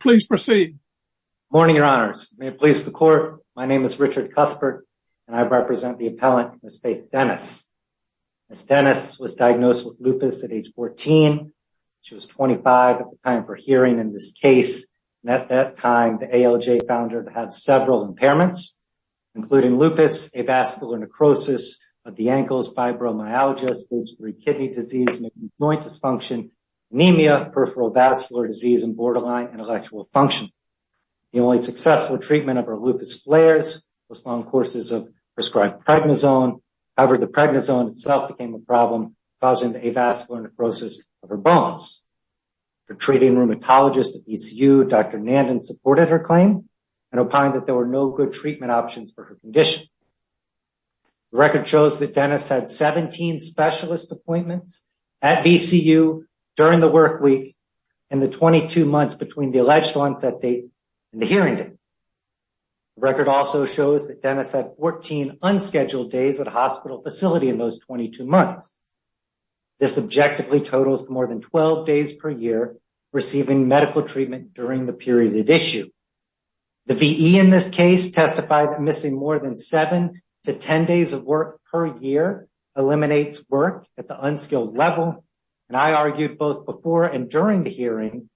Please proceed. Good morning, Your Honours. My name is Richard Cuthbert, and I represent the appellant, Ms. Faith Dennis. Ms. Dennis was diagnosed with lupus at age 14. She was 25 at the time of her hearing in this case. At that time, the ALJ found her to have several impairments, including lupus, avascular necrosis of the ankles, fibromyalgia, stage 3 kidney disease, joint dysfunction, anemia, peripheral vascular disease, and borderline intellectual function. The only successful treatment of her lupus flares was long courses of prescribed Pregnizone. However, the Pregnizone itself became a problem, causing the avascular necrosis of her bones. Her treating rheumatologist at ECU, Dr. Nandan, supported her claim and opined that there were no good treatment options for her condition. The record shows that Dennis had 17 specialist appointments at VCU during the work week and the 22 months between the alleged onset date and the hearing date. The record also shows that Dennis had 14 unscheduled days at a hospital facility in those 22 months. This objectively totals more than 12 days per year receiving medical treatment during the period at issue. The VE in this case testified that seven to 10 days of work per year eliminates work at the unskilled level. And I argued both before and during the hearing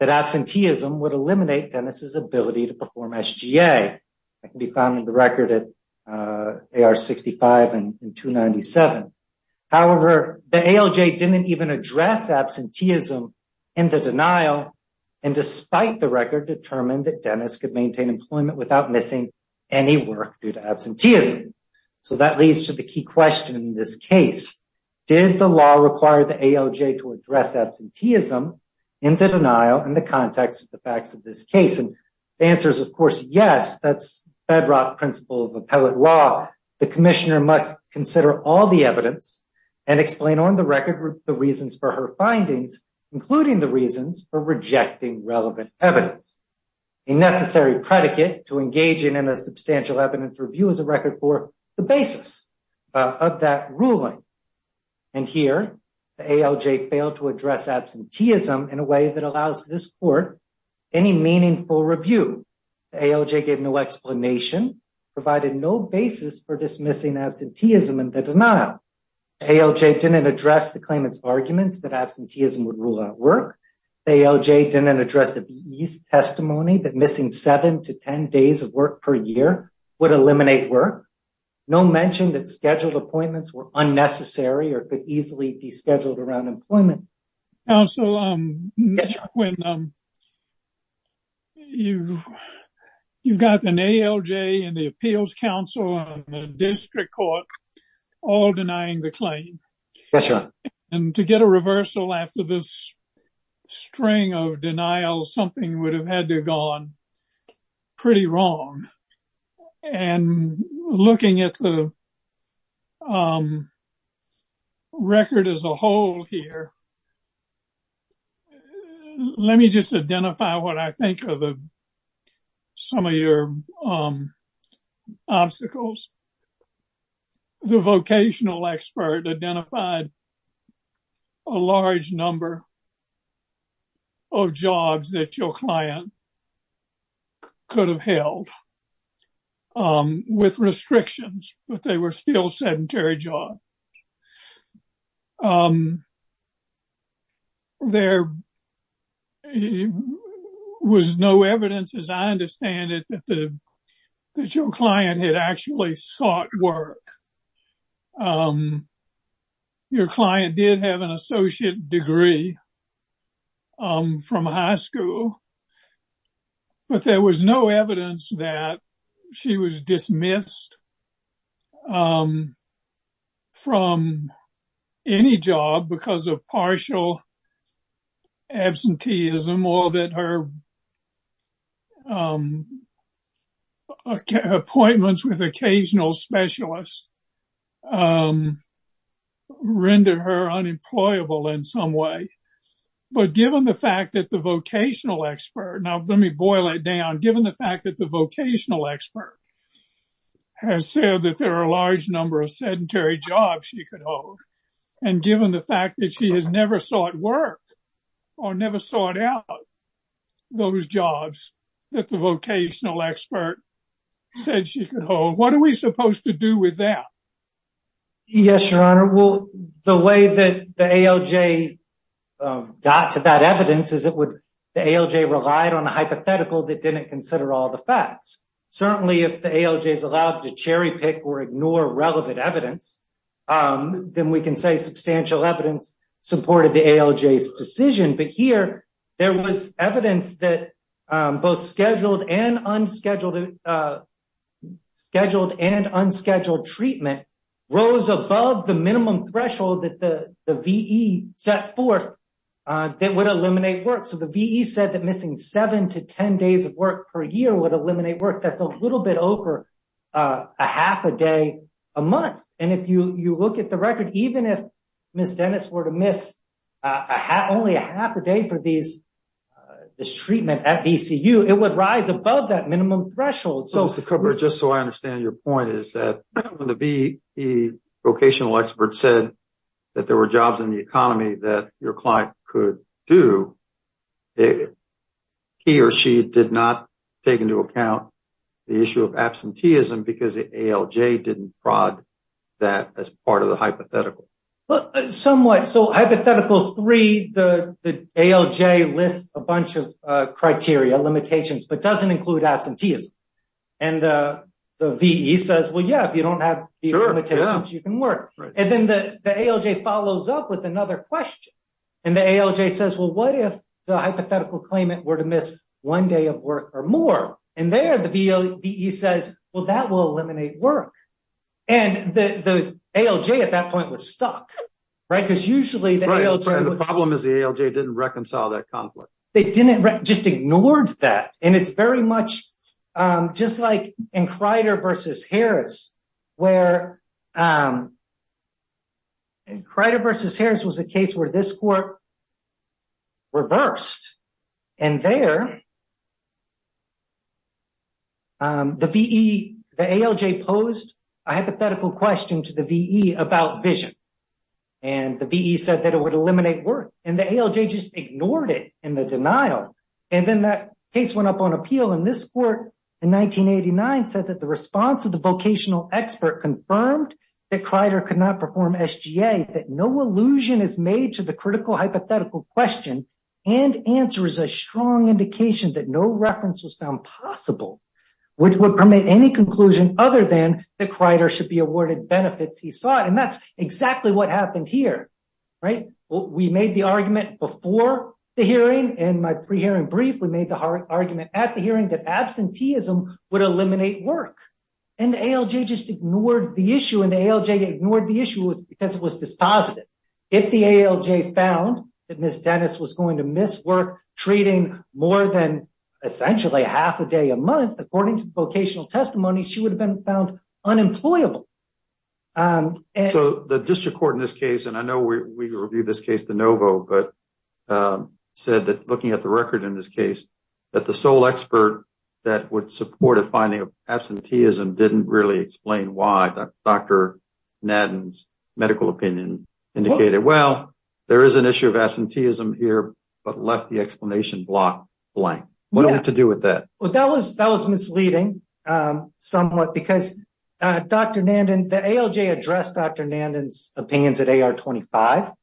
that absenteeism would eliminate Dennis's ability to perform SGA. That can be found in the record at AR 65 and 297. However, the ALJ didn't even address absenteeism in the denial and despite the record determined that Dennis could maintain employment without missing any work due to absenteeism. So that leads to the key question in this case. Did the law require the ALJ to address absenteeism in the denial in the context of the facts of this case? And the answer is of course, yes, that's bedrock principle of appellate law. The commissioner must consider all the evidence and explain on the record the reasons for her findings, including the reasons for rejecting relevant evidence. A necessary predicate to engage in a substantial evidence review is a record for the basis of that ruling. And here the ALJ failed to address absenteeism in a way that allows this court any meaningful review. The ALJ gave no explanation, provided no basis for dismissing absenteeism in the denial. ALJ didn't address the claimant's arguments that absenteeism would rule out work. ALJ didn't address the BE's testimony that missing seven to 10 days of work per year would eliminate work. No mention that scheduled appointments were unnecessary or could easily be scheduled around employment. Counsel, you've got an ALJ and the appeals council and the district court all denying the claim. And to get a reversal after this string of denials, something would have had to have gone pretty wrong. And looking at the record as a whole here, let me just identify what I think are some of your obstacles. The vocational expert identified a large number of jobs that your client could have held with restrictions, but they were still sedentary jobs. There was no evidence, as I understand it, that your client had actually sought work. Your client did have an associate degree from high school, but there was no evidence that she was dismissed from any job because of partial absenteeism or that her appointments with occasional specialists rendered her unemployable in some way. But given the fact that the vocational expert has said that there are a large number of sedentary jobs she could hold, and given the fact that she has never sought work or never sought out those jobs that the vocational expert said she could hold, what are we supposed to do with that? Yes, your honor. Well, the way that the ALJ got to that evidence is that the ALJ relied on a hypothetical that didn't consider all the facts. Certainly, if the ALJ is allowed to cherry pick or ignore relevant evidence, then we can say substantial evidence supported the ALJ's decision. But here, there was evidence that both scheduled and unscheduled treatment rose above the minimum threshold that the VE set forth that would eliminate work. So, the VE said that missing seven to ten days of work per year would eliminate work. That's a little bit over a half a day a month. And if you look at the record, even if Ms. Dennis were to only have a half a day for this treatment at VCU, it would rise above that minimum threshold. So, Mr. Cooper, just so I understand your point is that when the vocational expert said that there were jobs in the economy that your client could do, he or she did not take into account the issue of absenteeism because the ALJ didn't prod that as part of the hypothetical. Somewhat. So, hypothetical three, the ALJ lists a bunch of criteria, limitations, but doesn't include absenteeism. And the VE says, well, yeah, if you don't have these limitations, you can work. And then the ALJ follows up with another question. And the ALJ says, well, what if the hypothetical claimant were to miss one day of work or more? And there the VE says, well, that will eliminate work. And the ALJ at that point was stuck, right? Because usually the ALJ... Right. And the problem is the ALJ didn't reconcile that conflict. They didn't, just ignored that. And it's very much just like in Crider versus Harris, where Crider versus Harris was a case where this court reversed. And there the VE, the ALJ posed a hypothetical question to the VE about vision. And the VE said that it would eliminate work and the ALJ just ignored it in the denial. And then that case went up on appeal and this court in 1989 said that the response of the vocational expert confirmed that Crider could not perform SGA, that no illusion is made to critical hypothetical question and answer is a strong indication that no reference was found possible, which would permit any conclusion other than that Crider should be awarded benefits he sought. And that's exactly what happened here, right? We made the argument before the hearing and my pre-hearing brief, we made the argument at the hearing that absenteeism would eliminate work and the ALJ just ignored the issue. And the ALJ ignored the issue because it was dispositive. If the ALJ found that Ms. Dennis was going to miss work, treating more than essentially half a day a month, according to the vocational testimony, she would have been found unemployable. So the district court in this case, and I know we reviewed this case de novo, but said that looking at the record in this case, that the sole expert that would support a finding of medical opinion indicated, well, there is an issue of absenteeism here, but left the explanation block blank. What do we have to do with that? Well, that was misleading somewhat because Dr. Nanden, the ALJ addressed Dr. Nanden's opinions at AR25.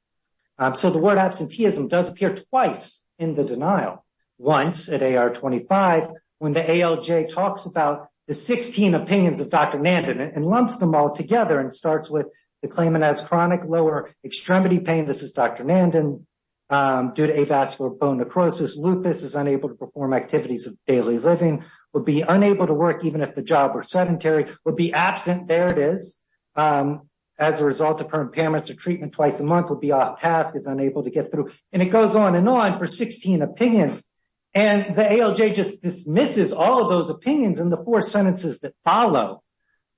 So the word absenteeism does appear twice in the denial. Once at AR25, when the ALJ talks about the 16 opinions of Dr. Nanden and lumps them all together and starts with the claimant has chronic lower extremity pain, this is Dr. Nanden, due to avascular bone necrosis, lupus, is unable to perform activities of daily living, would be unable to work even if the job were sedentary, would be absent, there it is, as a result of her impairments or treatment twice a month, would be off task, is unable to get through. And it goes on and on for 16 opinions. And the ALJ just dismisses all of those opinions in the four sentences that follow.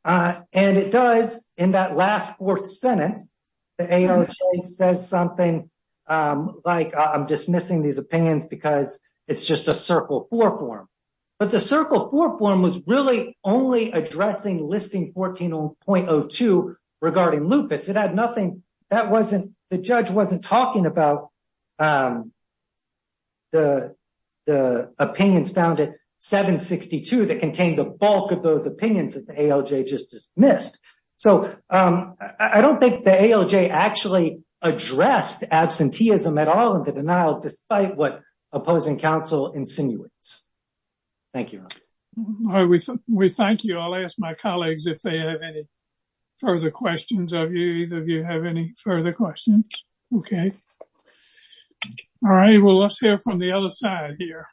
And it does, in that last fourth sentence, the ALJ says something like, I'm dismissing these opinions because it's just a circle four form. But the circle four form was really only addressing listing 14.02 regarding lupus. It had nothing, the judge wasn't talking about the opinions found at 762 that contained the bulk of those opinions that the ALJ just dismissed. So I don't think the ALJ actually addressed absenteeism at all in the denial, despite what opposing counsel insinuates. Thank you. We thank you. I'll ask my colleagues if they have any further questions of you, if you have any further questions. Okay. All right. Well, let's hear from the other side here.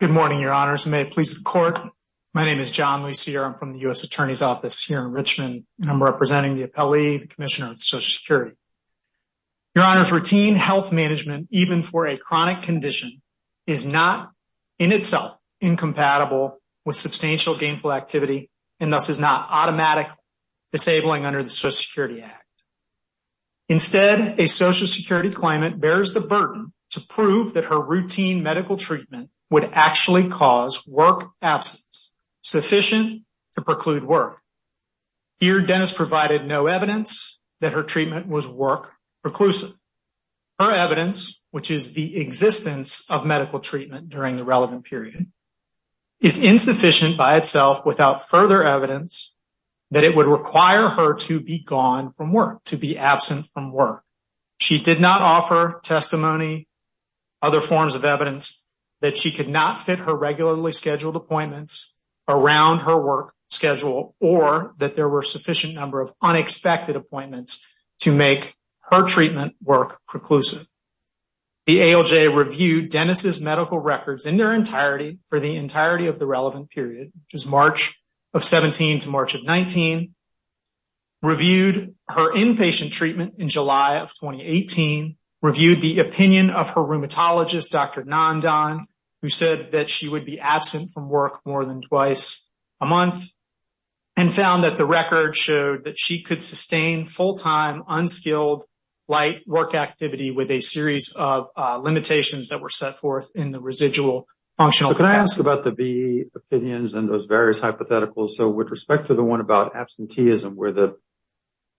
Good morning, Your Honors. May it please the court. My name is John Lucier. I'm from the U.S. Attorney's Office here in Richmond, and I'm representing the Appellee Commissioner of Social Security. Your Honors, routine health management, even for a chronic condition, is not in itself incompatible with substantial gainful activity, and thus is not automatically disabling under the Social Security Act. Instead, a Social Security claimant bears the burden to prove that her routine medical treatment would actually cause work absence, sufficient to preclude work. Here, Dennis provided no evidence that her treatment was work preclusive. Her evidence, which is the existence of medical treatment during the relevant period, is insufficient by itself without further evidence that it would require her to be gone from work, to be absent from work. She did not offer testimony, other forms of evidence that she could not fit her regularly scheduled appointments around her work schedule, or that there were a work preclusive. The ALJ reviewed Dennis's medical records in their entirety for the entirety of the relevant period, which is March of 17 to March of 19, reviewed her inpatient treatment in July of 2018, reviewed the opinion of her rheumatologist, Dr. Nandan, who said that she would be absent from work more than twice a month, and found that the record showed that she could sustain full-time, unskilled, light work activity with a series of limitations that were set forth in the residual functional capacity. Can I ask about the B opinions and those various hypotheticals? With respect to the one about absenteeism, where the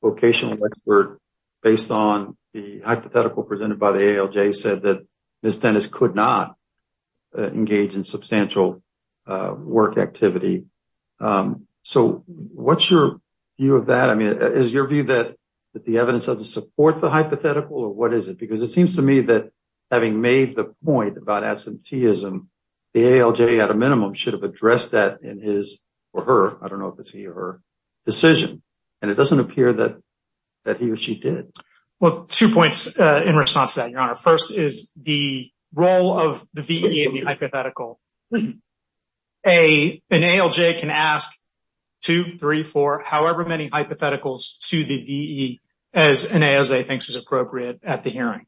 vocational expert, based on the hypothetical presented by the ALJ, said that Ms. Dennis could not be found, is your view that the evidence does not support the hypothetical, or what is it? Because it seems to me that, having made the point about absenteeism, the ALJ, at a minimum, should have addressed that in his or her decision. It does not appear that he or she did. Two points in response to that, Your Honor. First is the role of the VA in the hypothetical. An ALJ can ask two, three, four, however many hypotheticals to the VE as an ASVA thinks is appropriate at the hearing.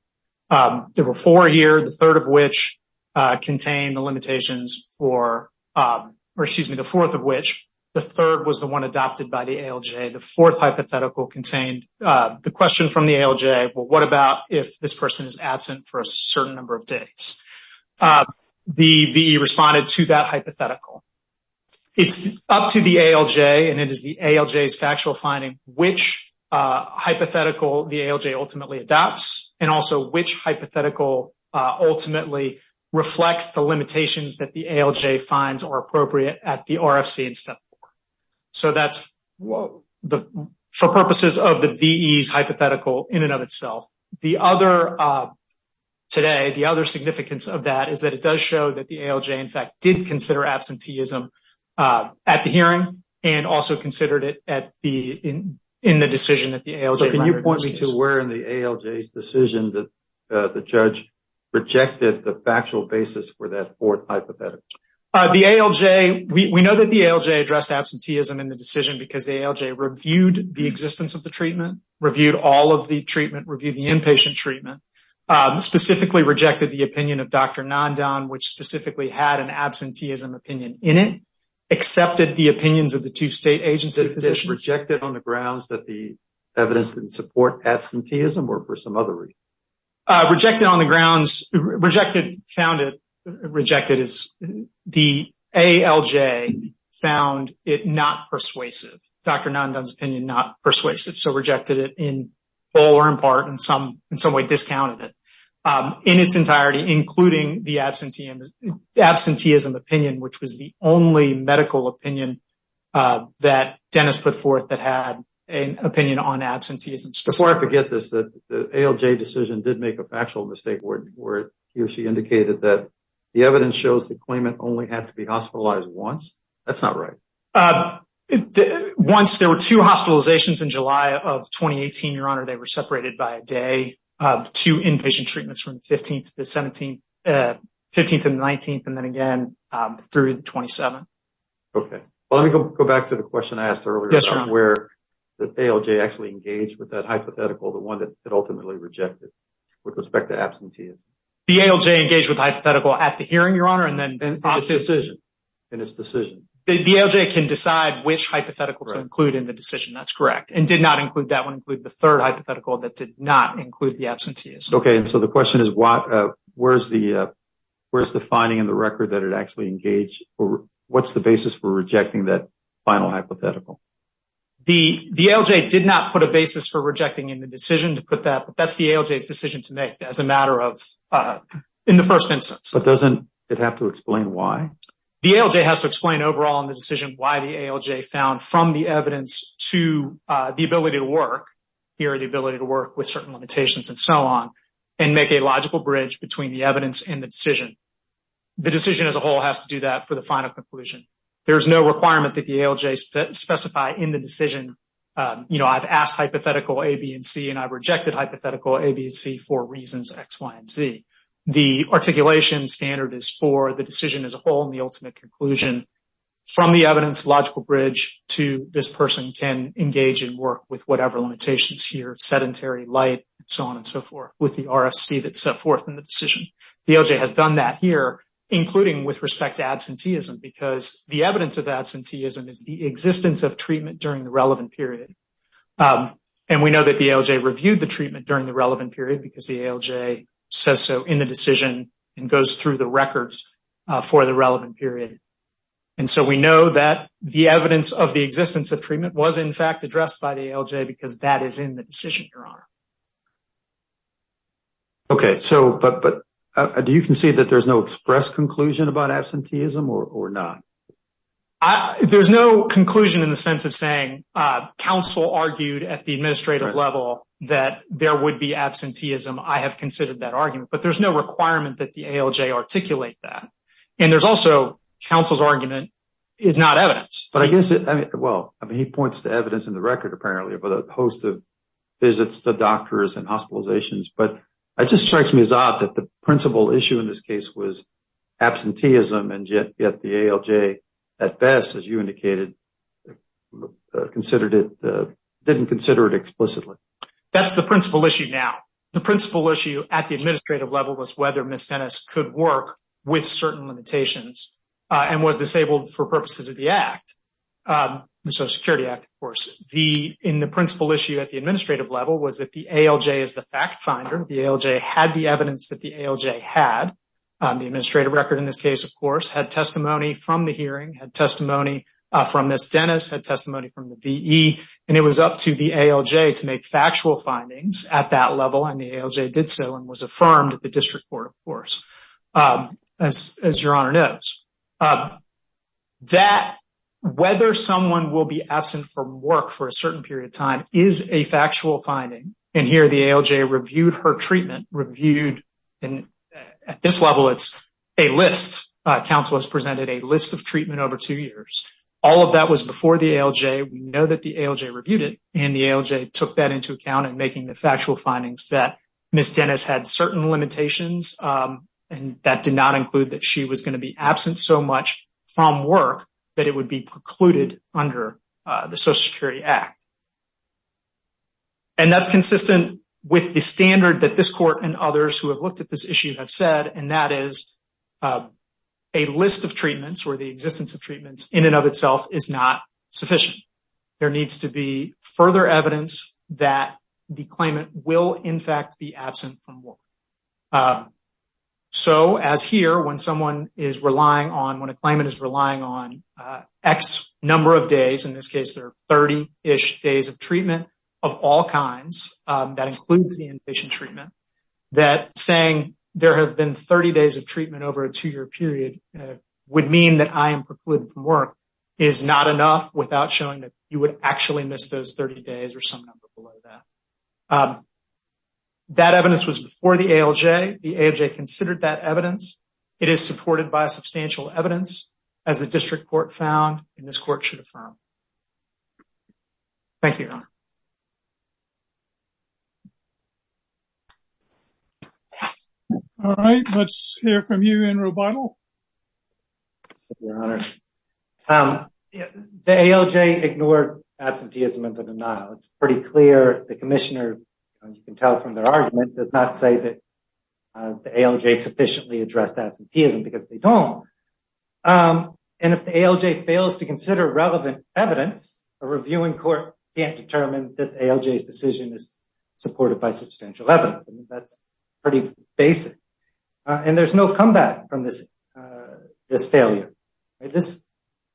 There were four here, the third of which contained the limitations for, or excuse me, the fourth of which, the third was the one adopted by the ALJ. The fourth hypothetical contained the question from the ALJ, well, what about if this person is absent for a hypothetical? It is up to the ALJ, and it is the ALJ's factual finding, which hypothetical the ALJ ultimately adopts, and also which hypothetical ultimately reflects the limitations that the ALJ finds are appropriate at the RFC in step four. So that is for purposes of the VE's hypothetical in and of itself. The other, today, the other significance of that is that it does show that the ALJ, in fact, did consider absenteeism at the hearing, and also considered it in the decision that the ALJ... So can you point me to where in the ALJ's decision the judge rejected the factual basis for that fourth hypothetical? The ALJ, we know that the ALJ addressed absenteeism in the decision because the ALJ reviewed the existence of the treatment, reviewed all of the treatment, reviewed the inpatient treatment, specifically rejected the opinion of Dr. Nandan, which specifically had an absenteeism opinion in it, accepted the opinions of the two state agency physicians... Rejected on the grounds that the evidence didn't support absenteeism, or for some other reason? Rejected on the grounds... Rejected, founded... Rejected is the ALJ found it not persuasive. Dr. Nandan's opinion, not persuasive. So rejected it in full or in part, in some way discounted it in its entirety, including the absenteeism opinion, which was the only medical opinion that Dennis put forth that had an opinion on absenteeism. Before I forget this, the ALJ decision did make a factual mistake where he or she indicated that the evidence shows the claimant only had to be hospitalized once. That's not right. Once, there were two hospitalizations in July of 2018, Your Honor. They were separated by a day, two inpatient treatments from the 15th to the 17th, 15th and the 19th, and then again through the 27th. Okay. Well, let me go back to the question I asked earlier. Yes, Your Honor. Where the ALJ actually engaged with that hypothetical, the one that ultimately rejected with respect to absenteeism. The ALJ engaged with the hypothetical at the hearing, Your Honor, and then... In its decision. In its decision. The ALJ can decide which hypothetical to include in the decision. That's correct. And did not include that one, include the third hypothetical that did not include the absenteeism. Okay. So the question is, where's the finding in the record that it actually engaged? What's the basis for rejecting that final hypothetical? The ALJ did not put a basis for rejecting in the decision to put that, but that's the ALJ's decision to make as a matter of, in the first instance. But doesn't have to explain why. The ALJ has to explain overall in the decision why the ALJ found from the evidence to the ability to work, here the ability to work with certain limitations and so on, and make a logical bridge between the evidence and the decision. The decision as a whole has to do that for the final conclusion. There's no requirement that the ALJ specify in the decision, you know, I've asked hypothetical A, B, and C, and I've rejected hypothetical A, B, and C for reasons X, Y, and Z. The articulation standard is for the decision as a whole in the ultimate conclusion, from the evidence logical bridge to this person can engage and work with whatever limitations here, sedentary, light, and so on and so forth, with the RFC that's set forth in the decision. The ALJ has done that here, including with respect to absenteeism, because the evidence of absenteeism is the existence of treatment during the relevant period. And we know that the ALJ reviewed the treatment during the relevant period because the ALJ says so in the decision and goes through the records for the relevant period. And so we know that the evidence of the existence of treatment was in fact addressed by the ALJ because that is in the decision, Your Honor. Okay, so, but do you concede that there's no express conclusion about absenteeism or not? I, there's no conclusion in the sense of saying, uh, counsel argued at the administrative level that there would be absenteeism. I have considered that argument, but there's no requirement that the ALJ articulate that. And there's also counsel's argument is not evidence. But I guess, I mean, well, I mean, he points to evidence in the record, apparently, of a host of visits to doctors and hospitalizations, but it just strikes me as odd that the ALJ, at best, as you indicated, considered it, didn't consider it explicitly. That's the principal issue now. The principal issue at the administrative level was whether Ms. Dennis could work with certain limitations and was disabled for purposes of the Act, the Social Security Act, of course. The, in the principal issue at the administrative level was that the ALJ is the fact finder. The ALJ had the evidence that the ALJ had. The administrative record in this case, of course, had testimony from the hearing, had testimony from Ms. Dennis, had testimony from the VE, and it was up to the ALJ to make factual findings at that level, and the ALJ did so and was affirmed at the district court, of course, as your honor knows. That, whether someone will be absent from work for a certain period of time is a factual finding. And here, the ALJ reviewed her treatment, reviewed, and at this level, it's a list. Counsel has presented a list of treatment over two years. All of that was before the ALJ. We know that the ALJ reviewed it, and the ALJ took that into account in making the factual findings that Ms. Dennis had certain limitations, and that did not include that she was going to be absent so much from work that it would be precluded under the Social Security Act. And that's consistent with the standard that this court and others who have looked at this issue have said, and that is a list of treatments or the existence of treatments in and of itself is not sufficient. There needs to be further evidence that the claimant will, in fact, be absent from work. So, as here, when someone is relying on, when a claimant is relying on X number of days, in this case, there are 30-ish days of treatment of all kinds, that includes the inpatient treatment, that saying there have been 30 days of treatment over a two-year period would mean that I am precluded from work is not enough without showing that you would actually miss those 30 days or some number below that. That evidence was before the ALJ. The ALJ considered that evidence. It is supported by substantial evidence, as the district court found, and this court should affirm. Thank you, Your Honor. All right, let's hear from you, Enroe Bidel. Thank you, Your Honor. The ALJ ignored absenteeism in the denial. It's pretty clear. The commissioner, you can tell from their argument, does not say that the ALJ sufficiently addressed absenteeism because they don't. And if the ALJ fails to consider relevant evidence, a reviewing court can't determine that the ALJ's decision is supported by substantial evidence. I mean, that's pretty basic. And there's no comeback from this failure.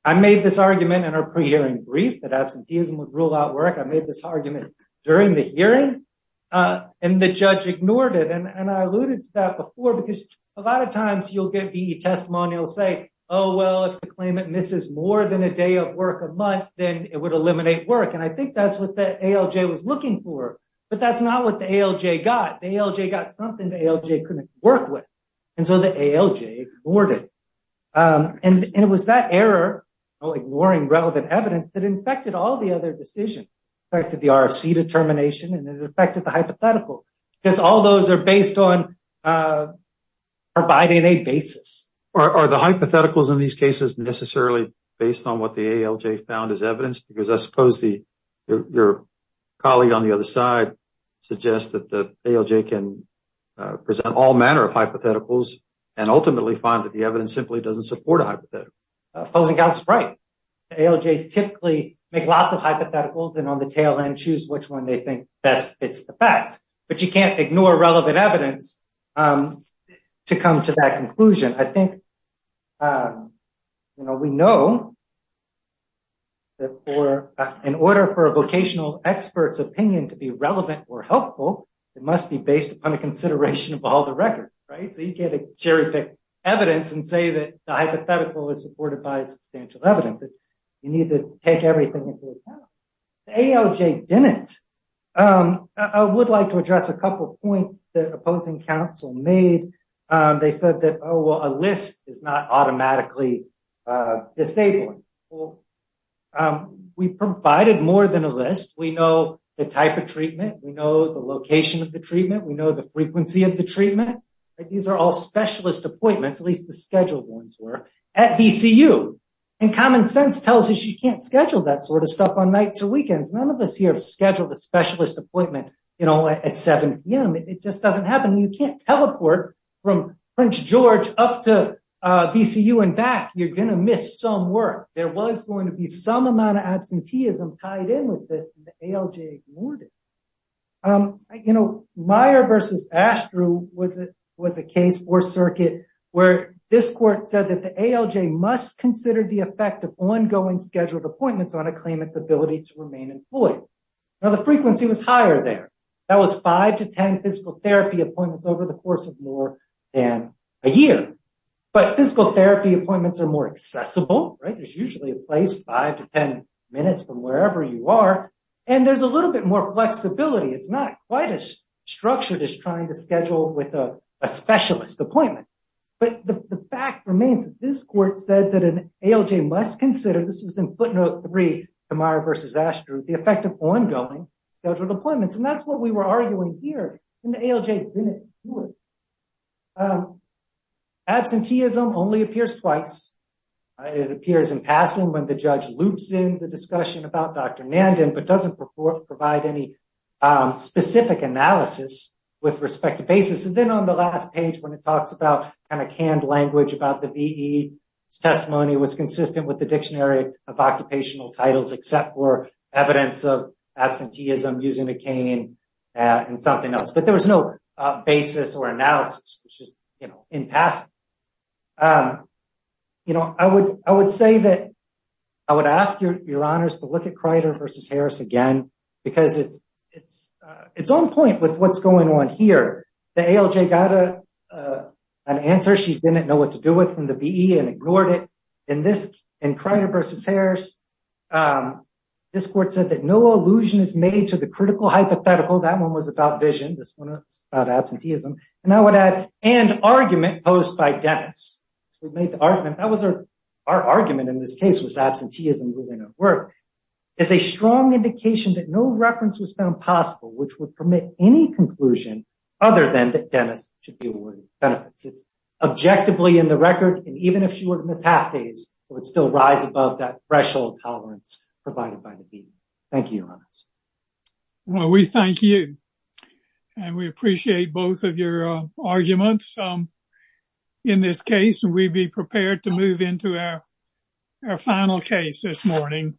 I made this argument in our pre-hearing brief that absenteeism would rule out work. I made this argument during the hearing, and the judge ignored it. And I alluded to that before because a lot of times you'll get the testimonials say, oh, well, if the claimant misses more than a day of work a month, then it would eliminate work. And I think that's what the ALJ was looking for. But that's not what the ALJ got. The ALJ got something the ALJ couldn't work with. And so the ALJ ignored it. And it was that error of ignoring relevant evidence that infected all the other decisions, affected the RFC determination, and it affected the hypothetical because all those are based on providing a basis. Are the hypotheticals in these cases necessarily based on what the ALJ found as evidence? Because I suppose your colleague on the other side suggests that the ALJ can present all manner of hypotheticals and ultimately find that the evidence simply doesn't support a hypothetical. Pozenkow's right. The ALJs typically make lots of hypotheticals and on the tail end choose which one they think best fits the facts. But you can't ignore relevant evidence to come to that conclusion. I think we know that in order for a vocational expert's opinion to be relevant or helpful, it must be based upon the consideration of all the records, right? So you get a cherry-picked evidence and say that the hypothetical is supported by substantial evidence. You need to take everything into account. The ALJ didn't. I would like to address a couple of points that opposing counsel made. They said that, oh, well, a list is not automatically disabling. We provided more than a list. We know the type of treatment. We know the location of the treatment. We know the frequency of the treatment. These are all specialist appointments, at least the scheduled ones were, at VCU. Common sense tells us you can't schedule that sort of stuff on nights or weekends. None of us here have scheduled a specialist appointment at 7 p.m. It just doesn't happen. You can't teleport from French George up to VCU and back. You're going to miss some work. There was going to be some amount of absenteeism tied in with this in the ALJ morning. Meijer v. Astro was a case for circuit where this court said that the ALJ must consider the effect of ongoing scheduled appointments on a claimant's ability to remain employed. Now, the frequency was higher there. That was 5 to 10 physical therapy appointments over the course of more than a year. But physical therapy appointments are more accessible, right? There's usually a place 5 to 10 minutes from wherever you are. And there's a little bit more flexibility. It's not quite as structured as trying to schedule with a specialist appointment. But the fact remains that this court said that an ALJ must consider, this was in footnote three to Meijer v. Astro, the effect of ongoing scheduled appointments. And that's what we were arguing here in the ALJ. Absenteeism only appears twice. It appears in passing when the judge loops in the discussion about Dr. Nanden, but doesn't provide any specific analysis with respect to basis. And then on the last page, when it talks about kind of canned language about the VE, its testimony was consistent with the dictionary of occupational titles, except for absenteeism using a cane and something else. But there was no basis or analysis in passing. I would say that I would ask your honors to look at Kreider v. Harris again, because it's on point with what's going on here. The ALJ got an answer she didn't know what to do with from the VE and ignored it. In Kreider v. Harris, this court said that no allusion is made to the critical hypothetical. That one was about vision. This one was about absenteeism. And I would add, and argument posed by Dennis. Our argument in this case was absenteeism moving at work. It's a strong indication that no reference was found possible, which would permit any conclusion other than that Dennis should be awarded benefits. It's objectively in the record. And even if she were to miss half days, it would still rise above that threshold tolerance provided by the VE. Thank you, your honors. Well, we thank you. And we appreciate both of your arguments in this case. And we'd be prepared to move into our final case this morning.